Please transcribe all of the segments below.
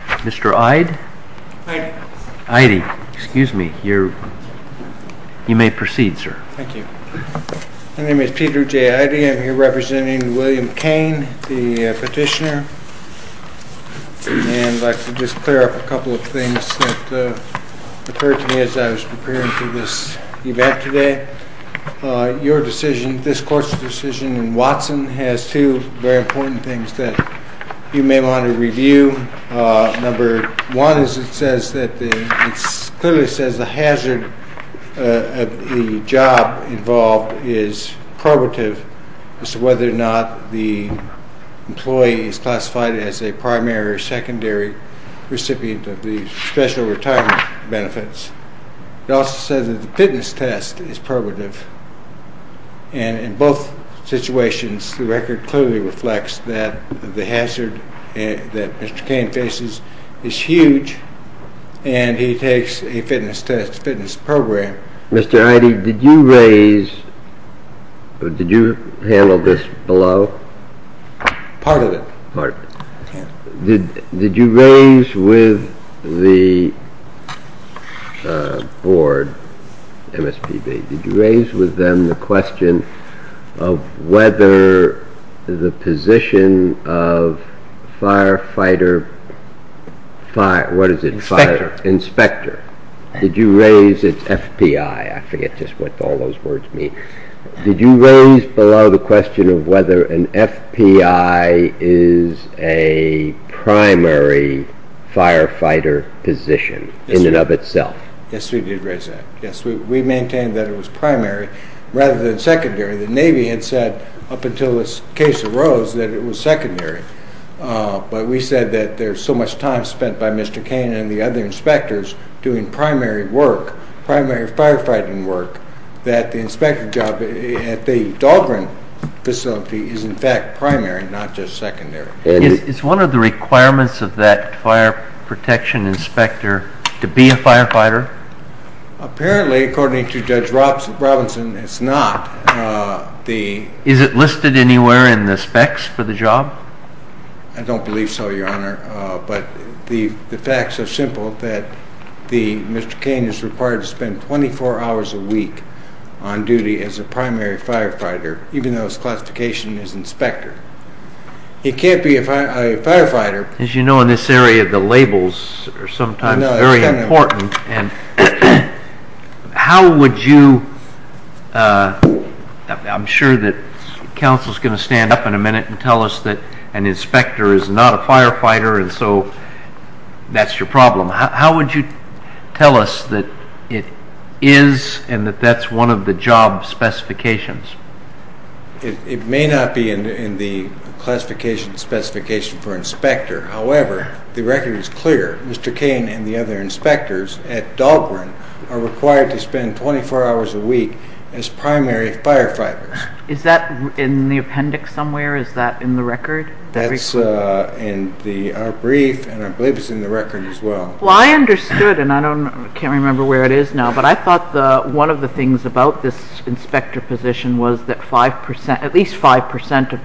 Mr. Ide? Ide, excuse me. You may proceed, sir. Thank you. My name is Peter J. Ide. I'm here representing William Cain, the petitioner, and I'd like to just clear up a couple of things that occurred to me as I was preparing for this event today. Your decision, this court's decision in Watson, has two very important things that you may want to review. Number one is it clearly says the hazard of the job involved is probative as to whether or not the employee is classified as a primary or secondary recipient of the special retirement benefits. It also says that the fitness test is probative, and in both situations the record clearly reflects that the hazard that Mr. Cain faces is huge, and he takes a fitness test, fitness program. Mr. Ide, did you raise, did you handle this below? Part of it. Did you raise with the board, MSPB, did you raise with them the question of whether the position of firefighter, what is it? Inspector. Inspector. Did you raise its FPI? I forget just what all those words mean. Did you raise below the question of whether an FPI is a primary firefighter position in and of itself? Yes, we did raise that. Yes, we maintained that it was primary rather than secondary. The Navy had said up until this case arose that it was secondary, but we said that there's so much time spent by Mr. Cain and the other inspectors doing primary work, primary firefighting work, that the inspector job at the Dahlgren facility is in fact primary, not just secondary. Is one of the requirements of that fire protection inspector to be a firefighter? Apparently, according to Judge Robinson, it's not. Is it listed anywhere in the specs for the job? I don't believe so, Your Honor, but the facts are simple that Mr. Cain is required to spend 24 hours a week on duty as a primary firefighter, even though his classification is inspector. He can't be a firefighter. As you know, in this area, the labels are sometimes very important. I'm sure that counsel is going to stand up in a minute and tell us that an inspector is not a firefighter, and so that's your problem. How would you tell us that it is and that that's one of the job specifications? It may not be in the classification specification for inspector. However, the record is clear. Mr. Cain and the other inspectors at Dahlgren are required to spend 24 hours a week as primary firefighters. Is that in the appendix somewhere? Is that in the record? That's in our brief, and I believe it's in the record as well. Well, I understood, and I can't remember where it is now, but I thought one of the things about this inspector position was that at least 5% of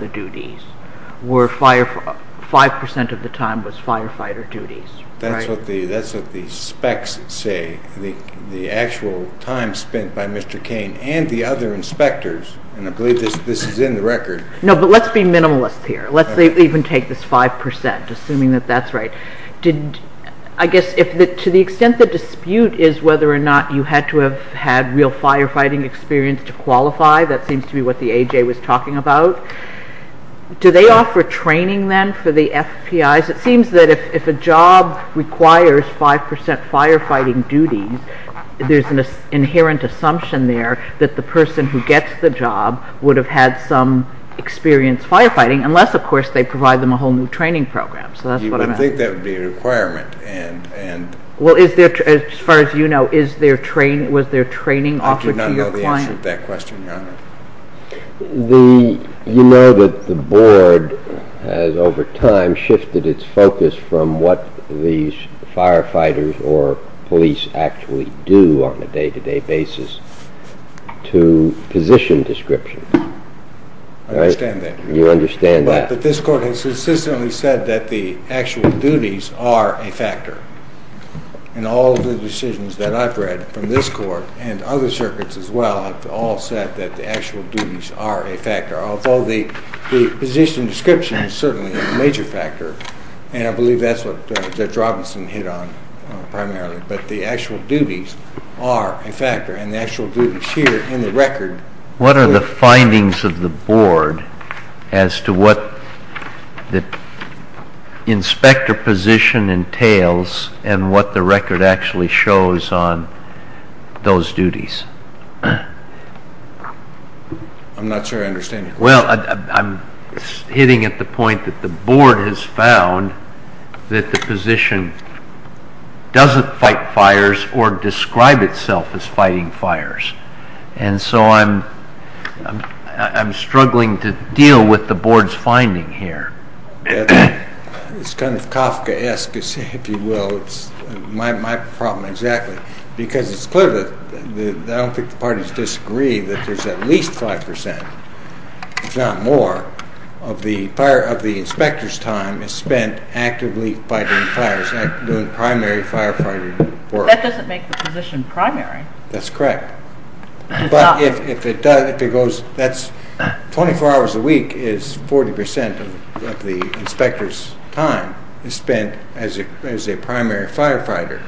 the time was firefighter duties. That's what the specs say, the actual time spent by Mr. Cain and the other inspectors, and I believe this is in the record. No, but let's be minimalist here. Let's even take this 5%, assuming that that's right. I guess to the extent the dispute is whether or not you had to have had real firefighting experience to qualify, that seems to be what the AJ was talking about. Do they offer training then for the FPIs? It seems that if a job requires 5% firefighting duties, there's an inherent assumption there that the person who gets the job would have had some experience firefighting, unless, of course, they provide them a whole new training program, so that's what I meant. I think that would be a requirement. Well, as far as you know, was there training offered to your client? I do not know the answer to that question, Your Honor. You know that the board has, over time, shifted its focus from what these firefighters or police actually do on a day-to-day basis to position descriptions. I understand that. You understand that. But this court has consistently said that the actual duties are a factor. And all of the decisions that I've read from this court and other circuits as well have all said that the actual duties are a factor, although the position description is certainly a major factor, and I believe that's what Judge Robinson hit on primarily, but the actual duties are a factor, and the actual duties here in the record… What are the findings of the board as to what the inspector position entails and what the record actually shows on those duties? I'm not sure I understand your question. Well, I'm hitting at the point that the board has found that the position doesn't fight fires or describe itself as fighting fires, and so I'm struggling to deal with the board's finding here. It's kind of Kafkaesque, if you will. It's my problem exactly, because it's clear that I don't think the parties disagree that there's at least 5%, if not more, of the inspector's time spent actively fighting fires, doing primary firefighter work. That doesn't make the position primary. That's correct. But if it goes… 24 hours a week is 40% of the inspector's time spent as a primary firefighter,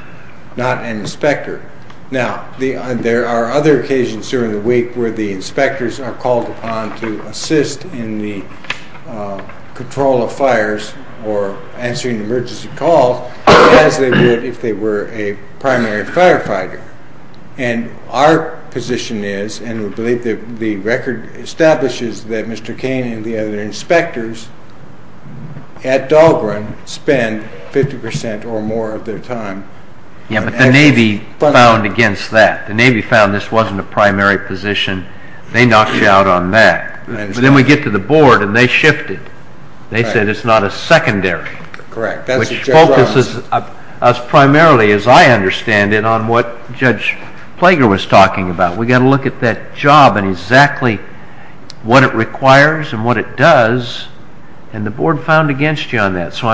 not an inspector. Now, there are other occasions during the week where the inspectors are called upon to assist in the control of fires or answering emergency calls as they would if they were a primary firefighter. And our position is, and we believe the record establishes that Mr. Kane and the other inspectors at Dahlgren spend 50% or more of their time… Yeah, but the Navy found against that. The Navy found this wasn't a primary position. They knocked you out on that. But then we get to the board and they shifted. They said it's not a secondary. Correct. Which focuses us primarily, as I understand it, on what Judge Plager was talking about. We've got to look at that job and exactly what it requires and what it does, and the board found against you on that. So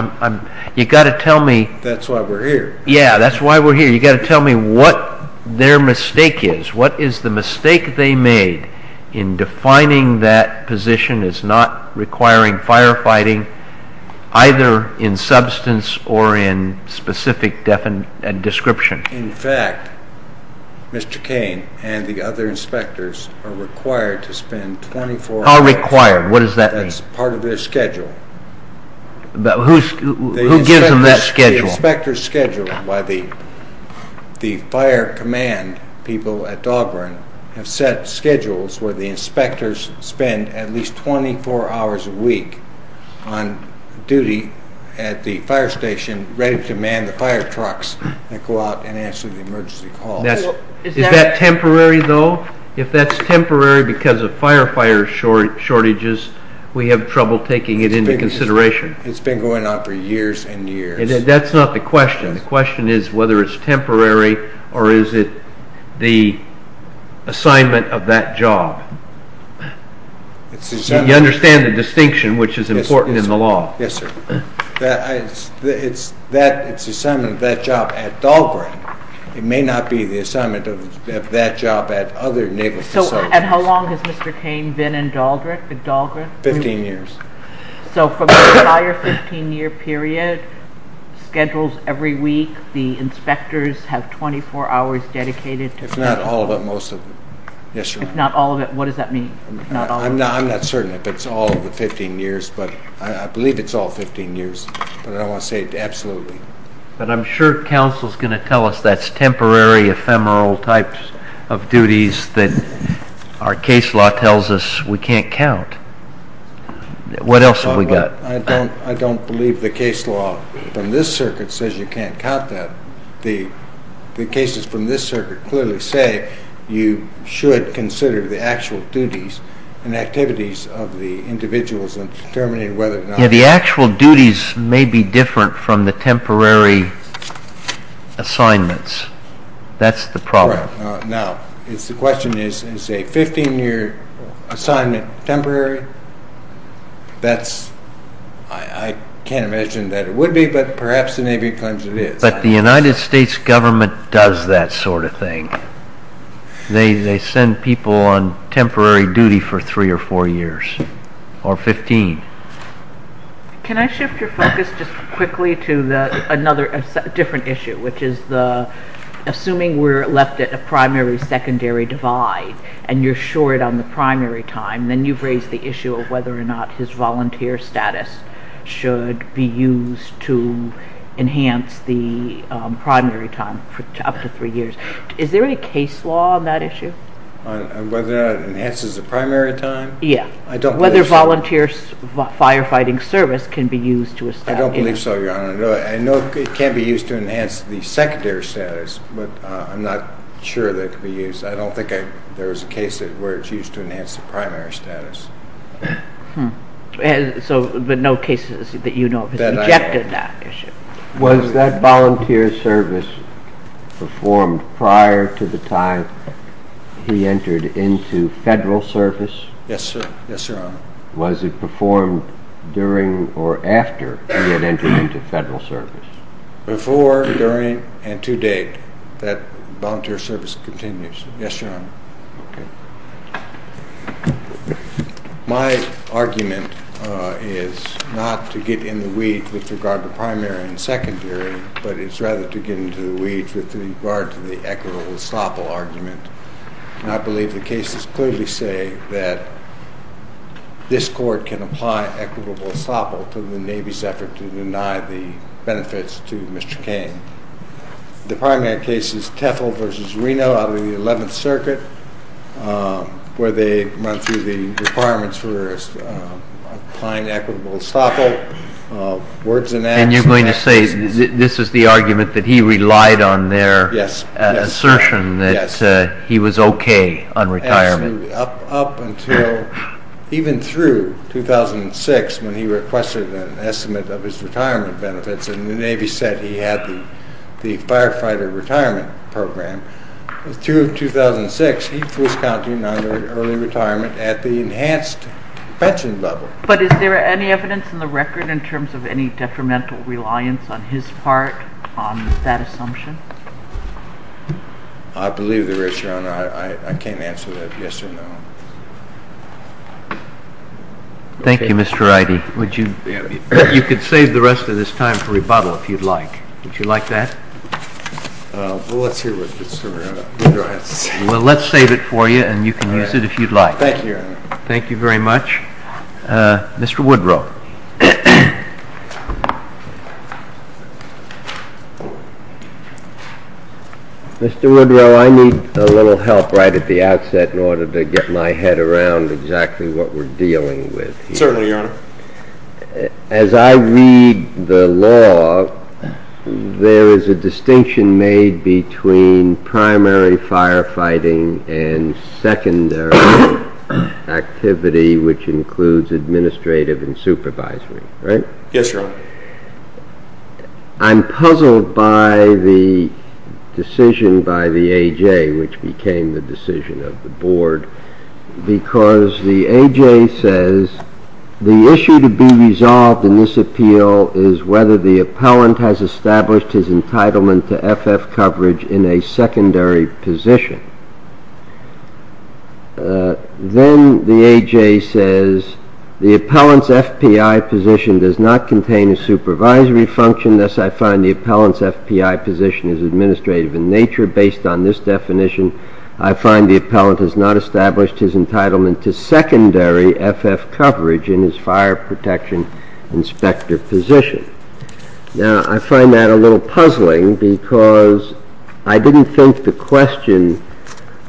you've got to tell me… That's why we're here. Yeah, that's why we're here. You've got to tell me what their mistake is. What is the mistake they made in defining that position as not requiring firefighting either in substance or in specific description? In fact, Mr. Kane and the other inspectors are required to spend 24 hours… How required? What does that mean? That's part of their schedule. Who gives them that schedule? The inspectors' schedule by the fire command people at Dauberin have set schedules where the inspectors spend at least 24 hours a week on duty at the fire station ready to man the fire trucks that go out and answer the emergency calls. Is that temporary, though? If that's temporary because of firefighter shortages, we have trouble taking it into consideration. It's been going on for years and years. That's not the question. The question is whether it's temporary or is it the assignment of that job. You understand the distinction, which is important in the law. Yes, sir. It's the assignment of that job at Dauberin. It may not be the assignment of that job at other naval facilities. And how long has Mr. Kane been in Dauberin? 15 years. So from the entire 15-year period, schedules every week, the inspectors have 24 hours dedicated to… If not all of it, most of it. If not all of it, what does that mean? I'm not certain if it's all of the 15 years, but I believe it's all 15 years. But I want to say absolutely. But I'm sure counsel's going to tell us that's temporary, ephemeral types of duties that our case law tells us we can't count. What else have we got? I don't believe the case law from this circuit says you can't count that. The cases from this circuit clearly say you should consider the actual duties and activities of the individuals in determining whether or not… Yeah, the actual duties may be different from the temporary assignments. That's the problem. Now, the question is, is a 15-year assignment temporary? That's… I can't imagine that it would be, but perhaps the Navy claims it is. But the United States government does that sort of thing. They send people on temporary duty for 3 or 4 years or 15. Can I shift your focus just quickly to another different issue, which is the… Assuming we're left at a primary-secondary divide and you're short on the primary time, then you've raised the issue of whether or not his volunteer status should be used to enhance the primary time for up to 3 years. Is there any case law on that issue? On whether or not it enhances the primary time? Yeah. I don't believe so. Whether volunteer firefighting service can be used to establish… I don't believe so, Your Honor. I know it can be used to enhance the secondary status, but I'm not sure that it could be used. I don't think there's a case where it's used to enhance the primary status. So, but no cases that you know of have rejected that issue. Was that volunteer service performed prior to the time he entered into federal service? Yes, sir. Yes, Your Honor. Was it performed during or after he had entered into federal service? Before, during, and to date. That volunteer service continues. Yes, Your Honor. Okay. My argument is not to get in the weeds with regard to primary and secondary, but it's rather to get into the weeds with regard to the equitable estoppel argument. And I believe the cases clearly say that this court can apply equitable estoppel to the Navy's effort to deny the benefits to Mr. Kane. The primary case is Tefel v. Reno out of the 11th Circuit, where they run through the requirements for applying equitable estoppel, words and actions. And you're going to say this is the argument that he relied on their assertion that he was okay on retirement? Absolutely. Up until, even through 2006 when he requested an estimate of his retirement benefits and the Navy said he had the firefighter retirement program, through 2006 he was counted under early retirement at the enhanced pension level. But is there any evidence in the record in terms of any detrimental reliance on his part on that assumption? I believe there is, Your Honor. I can't answer that yes or no. Thank you, Mr. Wrighty. You could save the rest of this time for rebuttal if you'd like. Would you like that? Well, let's hear what Mr. Woodrow has to say. Well, let's save it for you and you can use it if you'd like. Thank you, Your Honor. Thank you very much. Mr. Woodrow. Mr. Woodrow, I need a little help right at the outset in order to get my head around exactly what we're dealing with here. Certainly, Your Honor. As I read the law, there is a distinction made between primary firefighting and secondary activity, which includes administrative and supervisory, right? Yes, Your Honor. I'm puzzled by the decision by the A.J. which became the decision of the Board because the A.J. says the issue to be resolved in this appeal is whether the appellant has established his entitlement to FF coverage in a secondary position. Then the A.J. says the appellant's FPI position does not contain a supervisory function. Thus, I find the appellant's FPI position is administrative in nature. Based on this definition, I find the appellant has not established his entitlement to secondary FF coverage in his fire protection inspector position. Now, I find that a little puzzling because I didn't think the question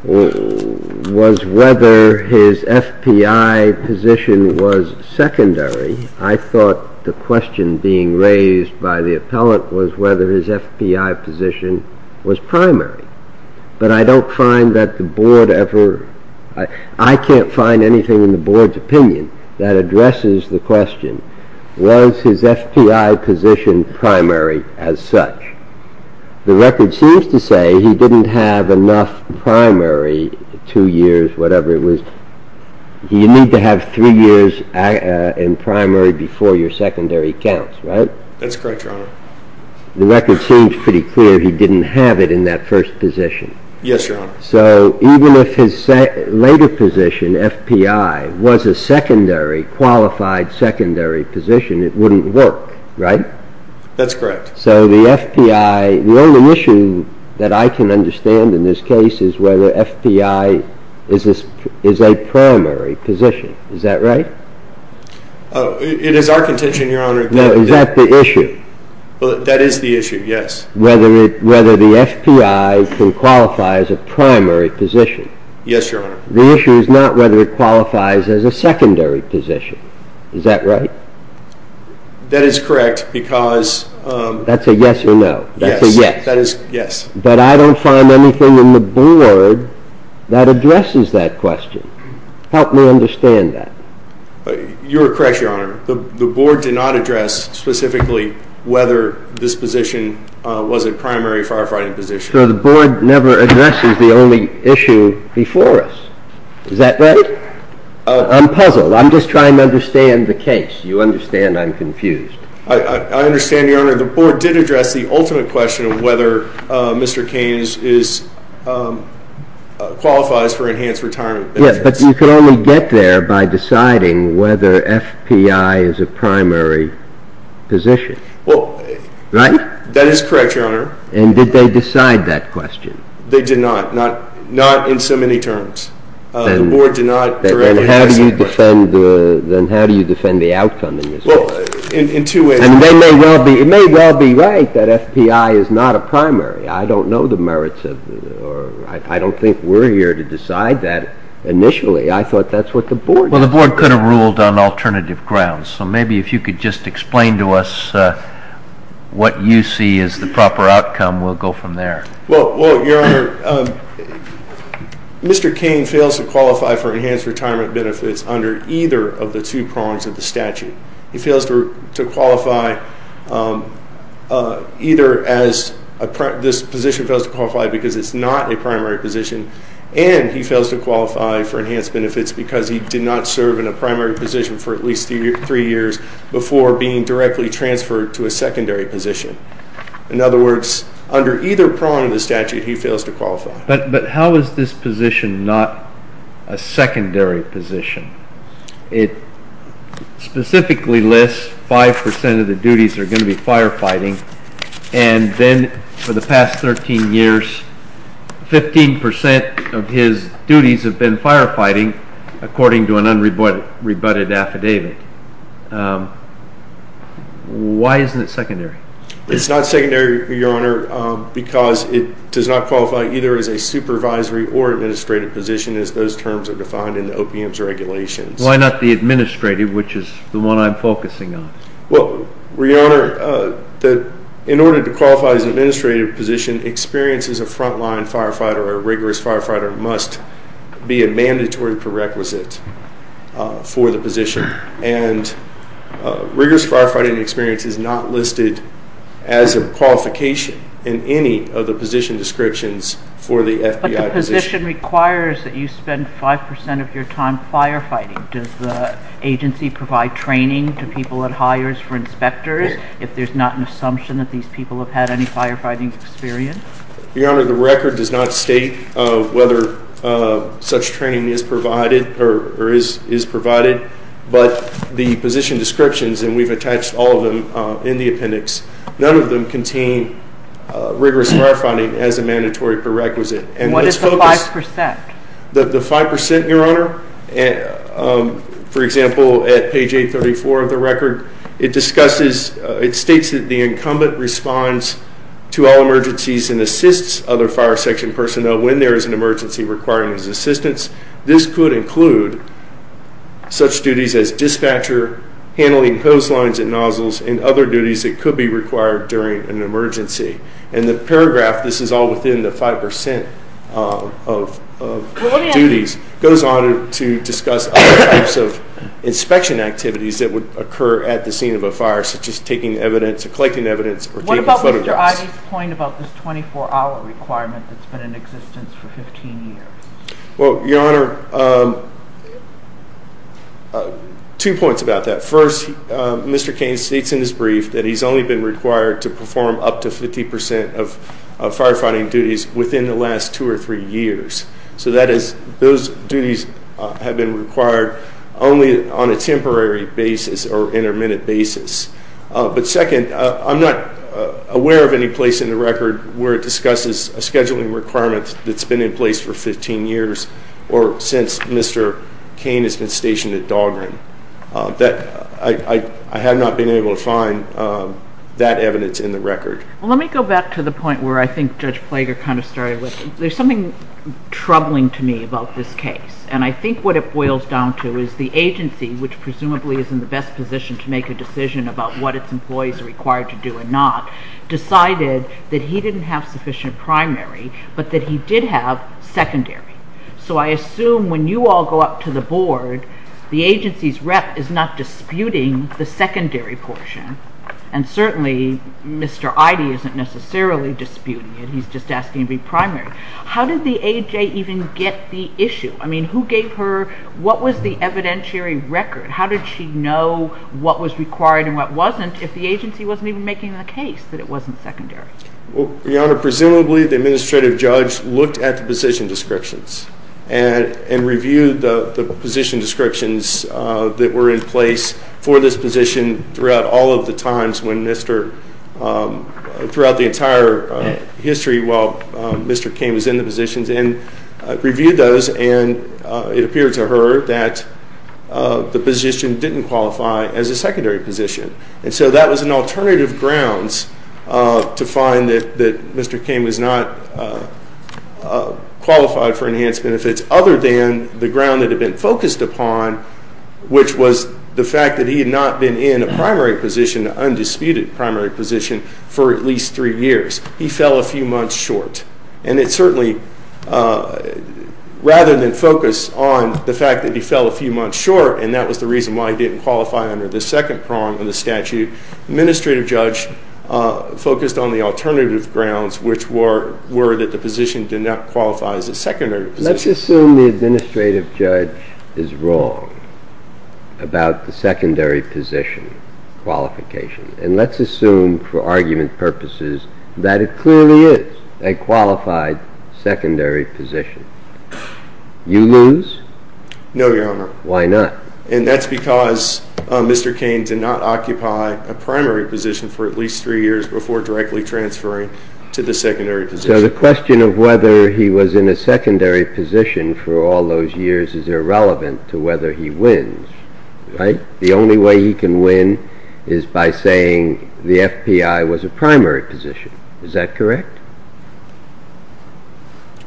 was whether his FPI position was secondary. I thought the question being raised by the appellant was whether his FPI position was primary. But I don't find that the Board ever – I can't find anything in the Board's opinion that addresses the question was his FPI position primary as such. The record seems to say he didn't have enough primary two years, whatever it was. You need to have three years in primary before your secondary counts, right? That's correct, Your Honor. The record seems pretty clear he didn't have it in that first position. Yes, Your Honor. So even if his later position, FPI, was a secondary, qualified secondary position, it wouldn't work, right? That's correct. So the FPI – the only issue that I can understand in this case is whether FPI is a primary position. Is that right? It is our contention, Your Honor. No, is that the issue? That is the issue, yes. Whether the FPI can qualify as a primary position. Yes, Your Honor. The issue is not whether it qualifies as a secondary position. Is that right? That is correct because – That's a yes or no. Yes. That's a yes. Yes. But I don't find anything in the Board that addresses that question. Help me understand that. You're correct, Your Honor. The Board did not address specifically whether this position was a primary firefighting position. So the Board never addresses the only issue before us. Is that right? I'm puzzled. I'm just trying to understand the case. You understand I'm confused. I understand, Your Honor. The Board did address the ultimate question of whether Mr. Keynes qualifies for enhanced retirement benefits. Yes, but you can only get there by deciding whether FPI is a primary position. Right? That is correct, Your Honor. And did they decide that question? They did not. Not in so many terms. The Board did not directly address that question. Then how do you defend the outcome in this case? In two ways. It may well be right that FPI is not a primary. I don't know the merits. I don't think we're here to decide that initially. I thought that's what the Board did. Well, the Board could have ruled on alternative grounds. So maybe if you could just explain to us what you see as the proper outcome, we'll go from there. Well, Your Honor, Mr. Keynes fails to qualify for enhanced retirement benefits under either of the two prongs of the statute. He fails to qualify either as this position fails to qualify because it's not a primary position, and he fails to qualify for enhanced benefits because he did not serve in a primary position for at least three years before being directly transferred to a secondary position. In other words, under either prong of the statute, he fails to qualify. But how is this position not a secondary position? It specifically lists 5% of the duties are going to be firefighting, and then for the past 13 years, 15% of his duties have been firefighting according to an unrebutted affidavit. Why isn't it secondary? It's not secondary, Your Honor, because it does not qualify either as a supervisory or administrative position as those terms are defined in the OPM's regulations. Why not the administrative, which is the one I'm focusing on? Well, Your Honor, in order to qualify as an administrative position, experience as a frontline firefighter or a rigorous firefighter must be a mandatory prerequisite for the position, and rigorous firefighting experience is not listed as a qualification in any of the position descriptions for the FBI position. The position requires that you spend 5% of your time firefighting. Does the agency provide training to people it hires for inspectors if there's not an assumption that these people have had any firefighting experience? Your Honor, the record does not state whether such training is provided, but the position descriptions, and we've attached all of them in the appendix, none of them contain rigorous firefighting as a mandatory prerequisite. And what is the 5%? The 5%, Your Honor, for example, at page 834 of the record, it discusses, it states that the incumbent responds to all emergencies and assists other fire section personnel when there is an emergency requiring his assistance. This could include such duties as dispatcher, handling hose lines and nozzles, and other duties that could be required during an emergency. And the paragraph, this is all within the 5% of duties, goes on to discuss other types of inspection activities that would occur at the scene of a fire, such as taking evidence or collecting evidence or taking photographs. What about Mr. Oddie's point about this 24-hour requirement that's been in existence for 15 years? Well, Your Honor, two points about that. First, Mr. Cain states in his brief that he's only been required to perform up to 50% of firefighting duties within the last two or three years. So that is, those duties have been required only on a temporary basis or intermittent basis. But second, I'm not aware of any place in the record where it discusses a scheduling requirement that's been in place for 15 years or since Mr. Cain has been stationed at Dahlgren. I have not been able to find that evidence in the record. Well, let me go back to the point where I think Judge Plager kind of started with. There's something troubling to me about this case, and I think what it boils down to is the agency, which presumably is in the best position to make a decision about what its employees are required to do and not, decided that he didn't have sufficient primary, but that he did have secondary. So I assume when you all go up to the board, the agency's rep is not disputing the secondary portion, and certainly Mr. Ide isn't necessarily disputing it. He's just asking to be primary. How did the AJ even get the issue? I mean, who gave her, what was the evidentiary record? How did she know what was required and what wasn't if the agency wasn't even making the case that it wasn't secondary? Well, Your Honor, presumably the administrative judge looked at the position descriptions and reviewed the position descriptions that were in place for this position throughout all of the times when Mr. throughout the entire history while Mr. Cain was in the positions and reviewed those, and it appeared to her that the position didn't qualify as a secondary position. And so that was an alternative grounds to find that Mr. Cain was not qualified for enhanced benefits, other than the ground that had been focused upon, which was the fact that he had not been in a primary position, an undisputed primary position, for at least three years. He fell a few months short. And it certainly, rather than focus on the fact that he fell a few months short, and that was the reason why he didn't qualify under the second prong of the statute, the administrative judge focused on the alternative grounds, which were that the position did not qualify as a secondary position. Let's assume the administrative judge is wrong about the secondary position qualification, and let's assume for argument purposes that it clearly is a qualified secondary position. You lose? No, Your Honor. Why not? And that's because Mr. Cain did not occupy a primary position for at least three years before directly transferring to the secondary position. So the question of whether he was in a secondary position for all those years is irrelevant to whether he wins, right? The only way he can win is by saying the FBI was a primary position. Is that correct?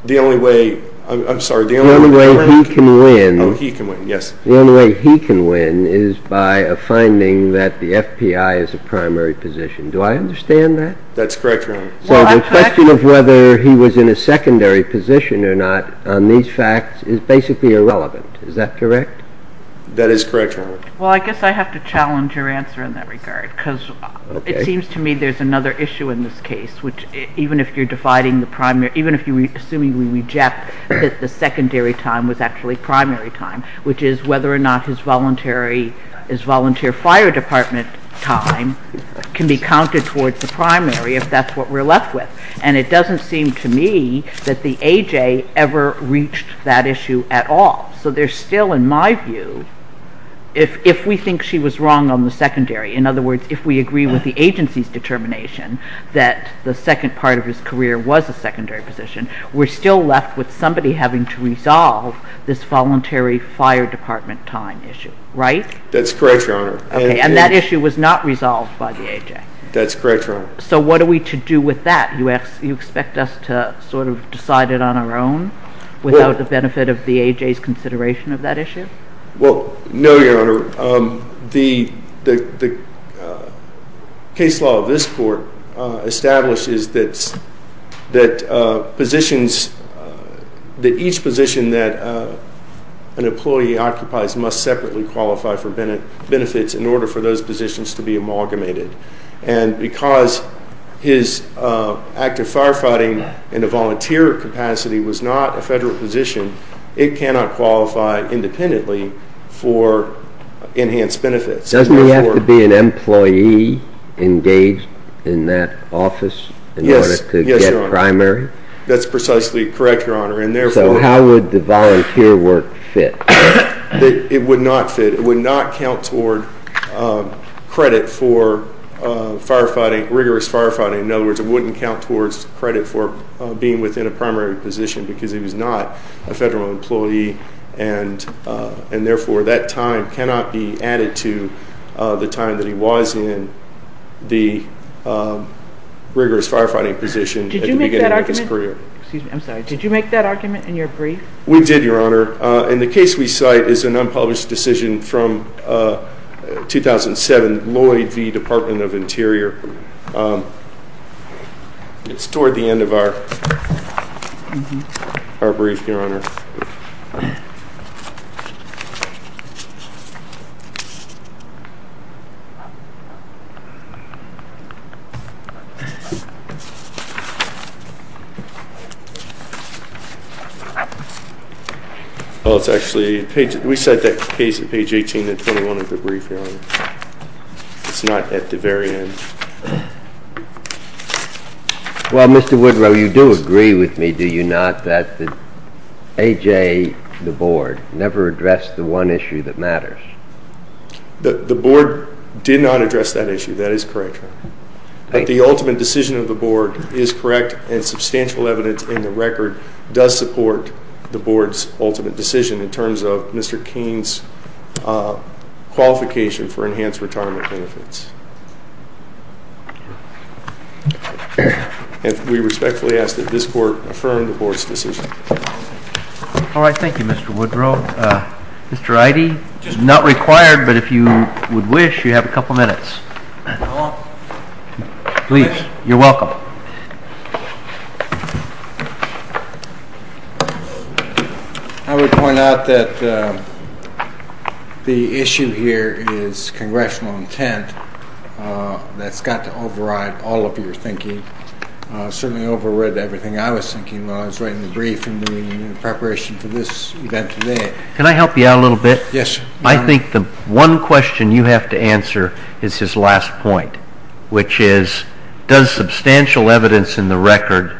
The only way, I'm sorry, the only way he can win… The only way he can win, yes. The only way he can win is by a finding that the FBI is a primary position. Do I understand that? That's correct, Your Honor. So the question of whether he was in a secondary position or not on these facts is basically irrelevant. Is that correct? That is correct, Your Honor. Well, I guess I have to challenge your answer in that regard because it seems to me there's another issue in this case, which even if you're dividing the primary, even if you're assuming we reject that the secondary time was actually primary time, which is whether or not his volunteer fire department time can be counted towards the primary if that's what we're left with. And it doesn't seem to me that the A.J. ever reached that issue at all. So there's still, in my view, if we think she was wrong on the secondary, in other words, if we agree with the agency's determination that the second part of his career was a secondary position, we're still left with somebody having to resolve this voluntary fire department time issue, right? That's correct, Your Honor. And that issue was not resolved by the A.J.? That's correct, Your Honor. So what are we to do with that? You expect us to sort of decide it on our own without the benefit of the A.J.'s consideration of that issue? Well, no, Your Honor. The case law of this court establishes that positions, that each position that an employee occupies must separately qualify for benefits in order for those positions to be amalgamated. And because his active firefighting in a volunteer capacity was not a federal position, it cannot qualify independently for enhanced benefits. Doesn't he have to be an employee engaged in that office in order to get primary? Yes, Your Honor. That's precisely correct, Your Honor. So how would the volunteer work fit? It would not fit. It would not count toward credit for rigorous firefighting. In other words, it wouldn't count towards credit for being within a primary position because he was not a federal employee. And therefore, that time cannot be added to the time that he was in the rigorous firefighting position at the beginning of his career. Did you make that argument? Excuse me, I'm sorry. Did you make that argument in your brief? We did, Your Honor. In the case we cite is an unpublished decision from 2007, Lloyd v. Department of Interior. It's toward the end of our brief, Your Honor. We cite that case at page 18 and 21 of the brief, Your Honor. It's not at the very end. Well, Mr. Woodrow, you do agree with me, do you not, that A.J., the board, never addressed the one issue that matters? The board did not address that issue. That is correct, Your Honor. The ultimate decision of the board is correct and substantial evidence in the record does support the board's ultimate decision in terms of Mr. Kane's qualification for enhanced retirement benefits. We respectfully ask that this court affirm the board's decision. All right. Thank you, Mr. Woodrow. Mr. Ide? Not required, but if you would wish, you have a couple minutes. Please. You're welcome. I would point out that the issue here is congressional intent. That's got to override all of your thinking. I certainly overrid everything I was thinking while I was writing the brief and doing the preparation for this event today. Can I help you out a little bit? Yes, Your Honor. I think the one question you have to answer is his last point, which is, does substantial evidence in the record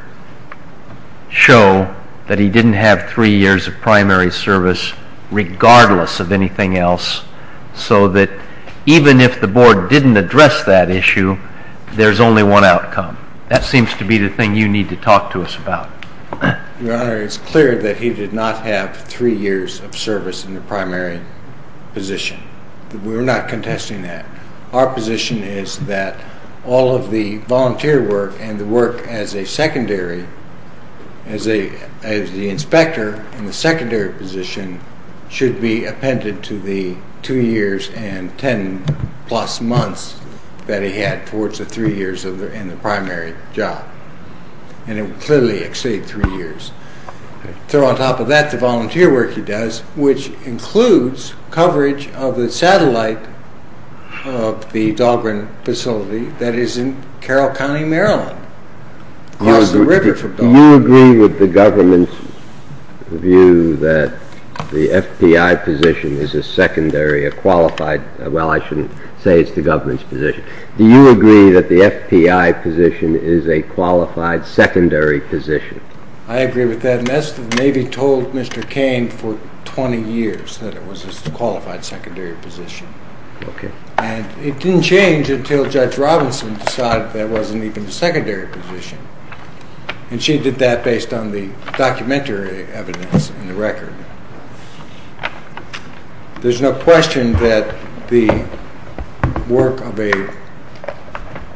show that he didn't have three years of primary service, regardless of anything else, so that even if the board didn't address that issue, there's only one outcome? That seems to be the thing you need to talk to us about. Your Honor, it's clear that he did not have three years of service in the primary position. We're not contesting that. Our position is that all of the volunteer work and the work as a secondary, as the inspector in the secondary position, should be appended to the two years and ten-plus months that he had towards the three years in the primary job. And it would clearly exceed three years. On top of that, the volunteer work he does, which includes coverage of the satellite of the Dahlgren facility that is in Carroll County, Maryland, across the river from Dahlgren. Do you agree with the government's view that the FBI position is a secondary, a qualified – well, I shouldn't say it's the government's position. Do you agree that the FBI position is a qualified secondary position? I agree with that, and that's what the Navy told Mr. Kane for 20 years, that it was a qualified secondary position. Okay. And it didn't change until Judge Robinson decided that it wasn't even a secondary position. And she did that based on the documentary evidence in the record. There's no question that the work of a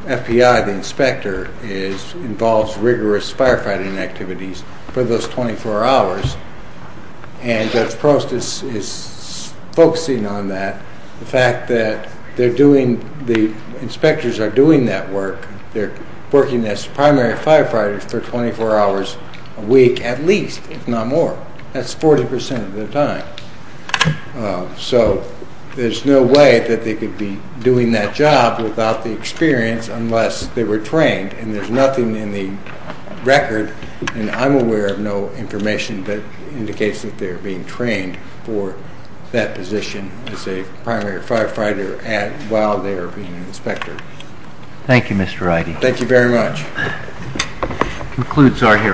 FBI inspector involves rigorous firefighting activities for those 24 hours, and Judge Prost is focusing on that. The fact that they're doing – the inspectors are doing that work. They're working as primary firefighters for 24 hours a week at least, if not more. That's 40 percent of their time. So there's no way that they could be doing that job without the experience unless they were trained, and there's nothing in the record – and I'm aware of no information that indicates that they're being trained for that position as a primary firefighter while they're being an inspector. Thank you, Mr. Wrighty. Thank you very much. That concludes our hearing.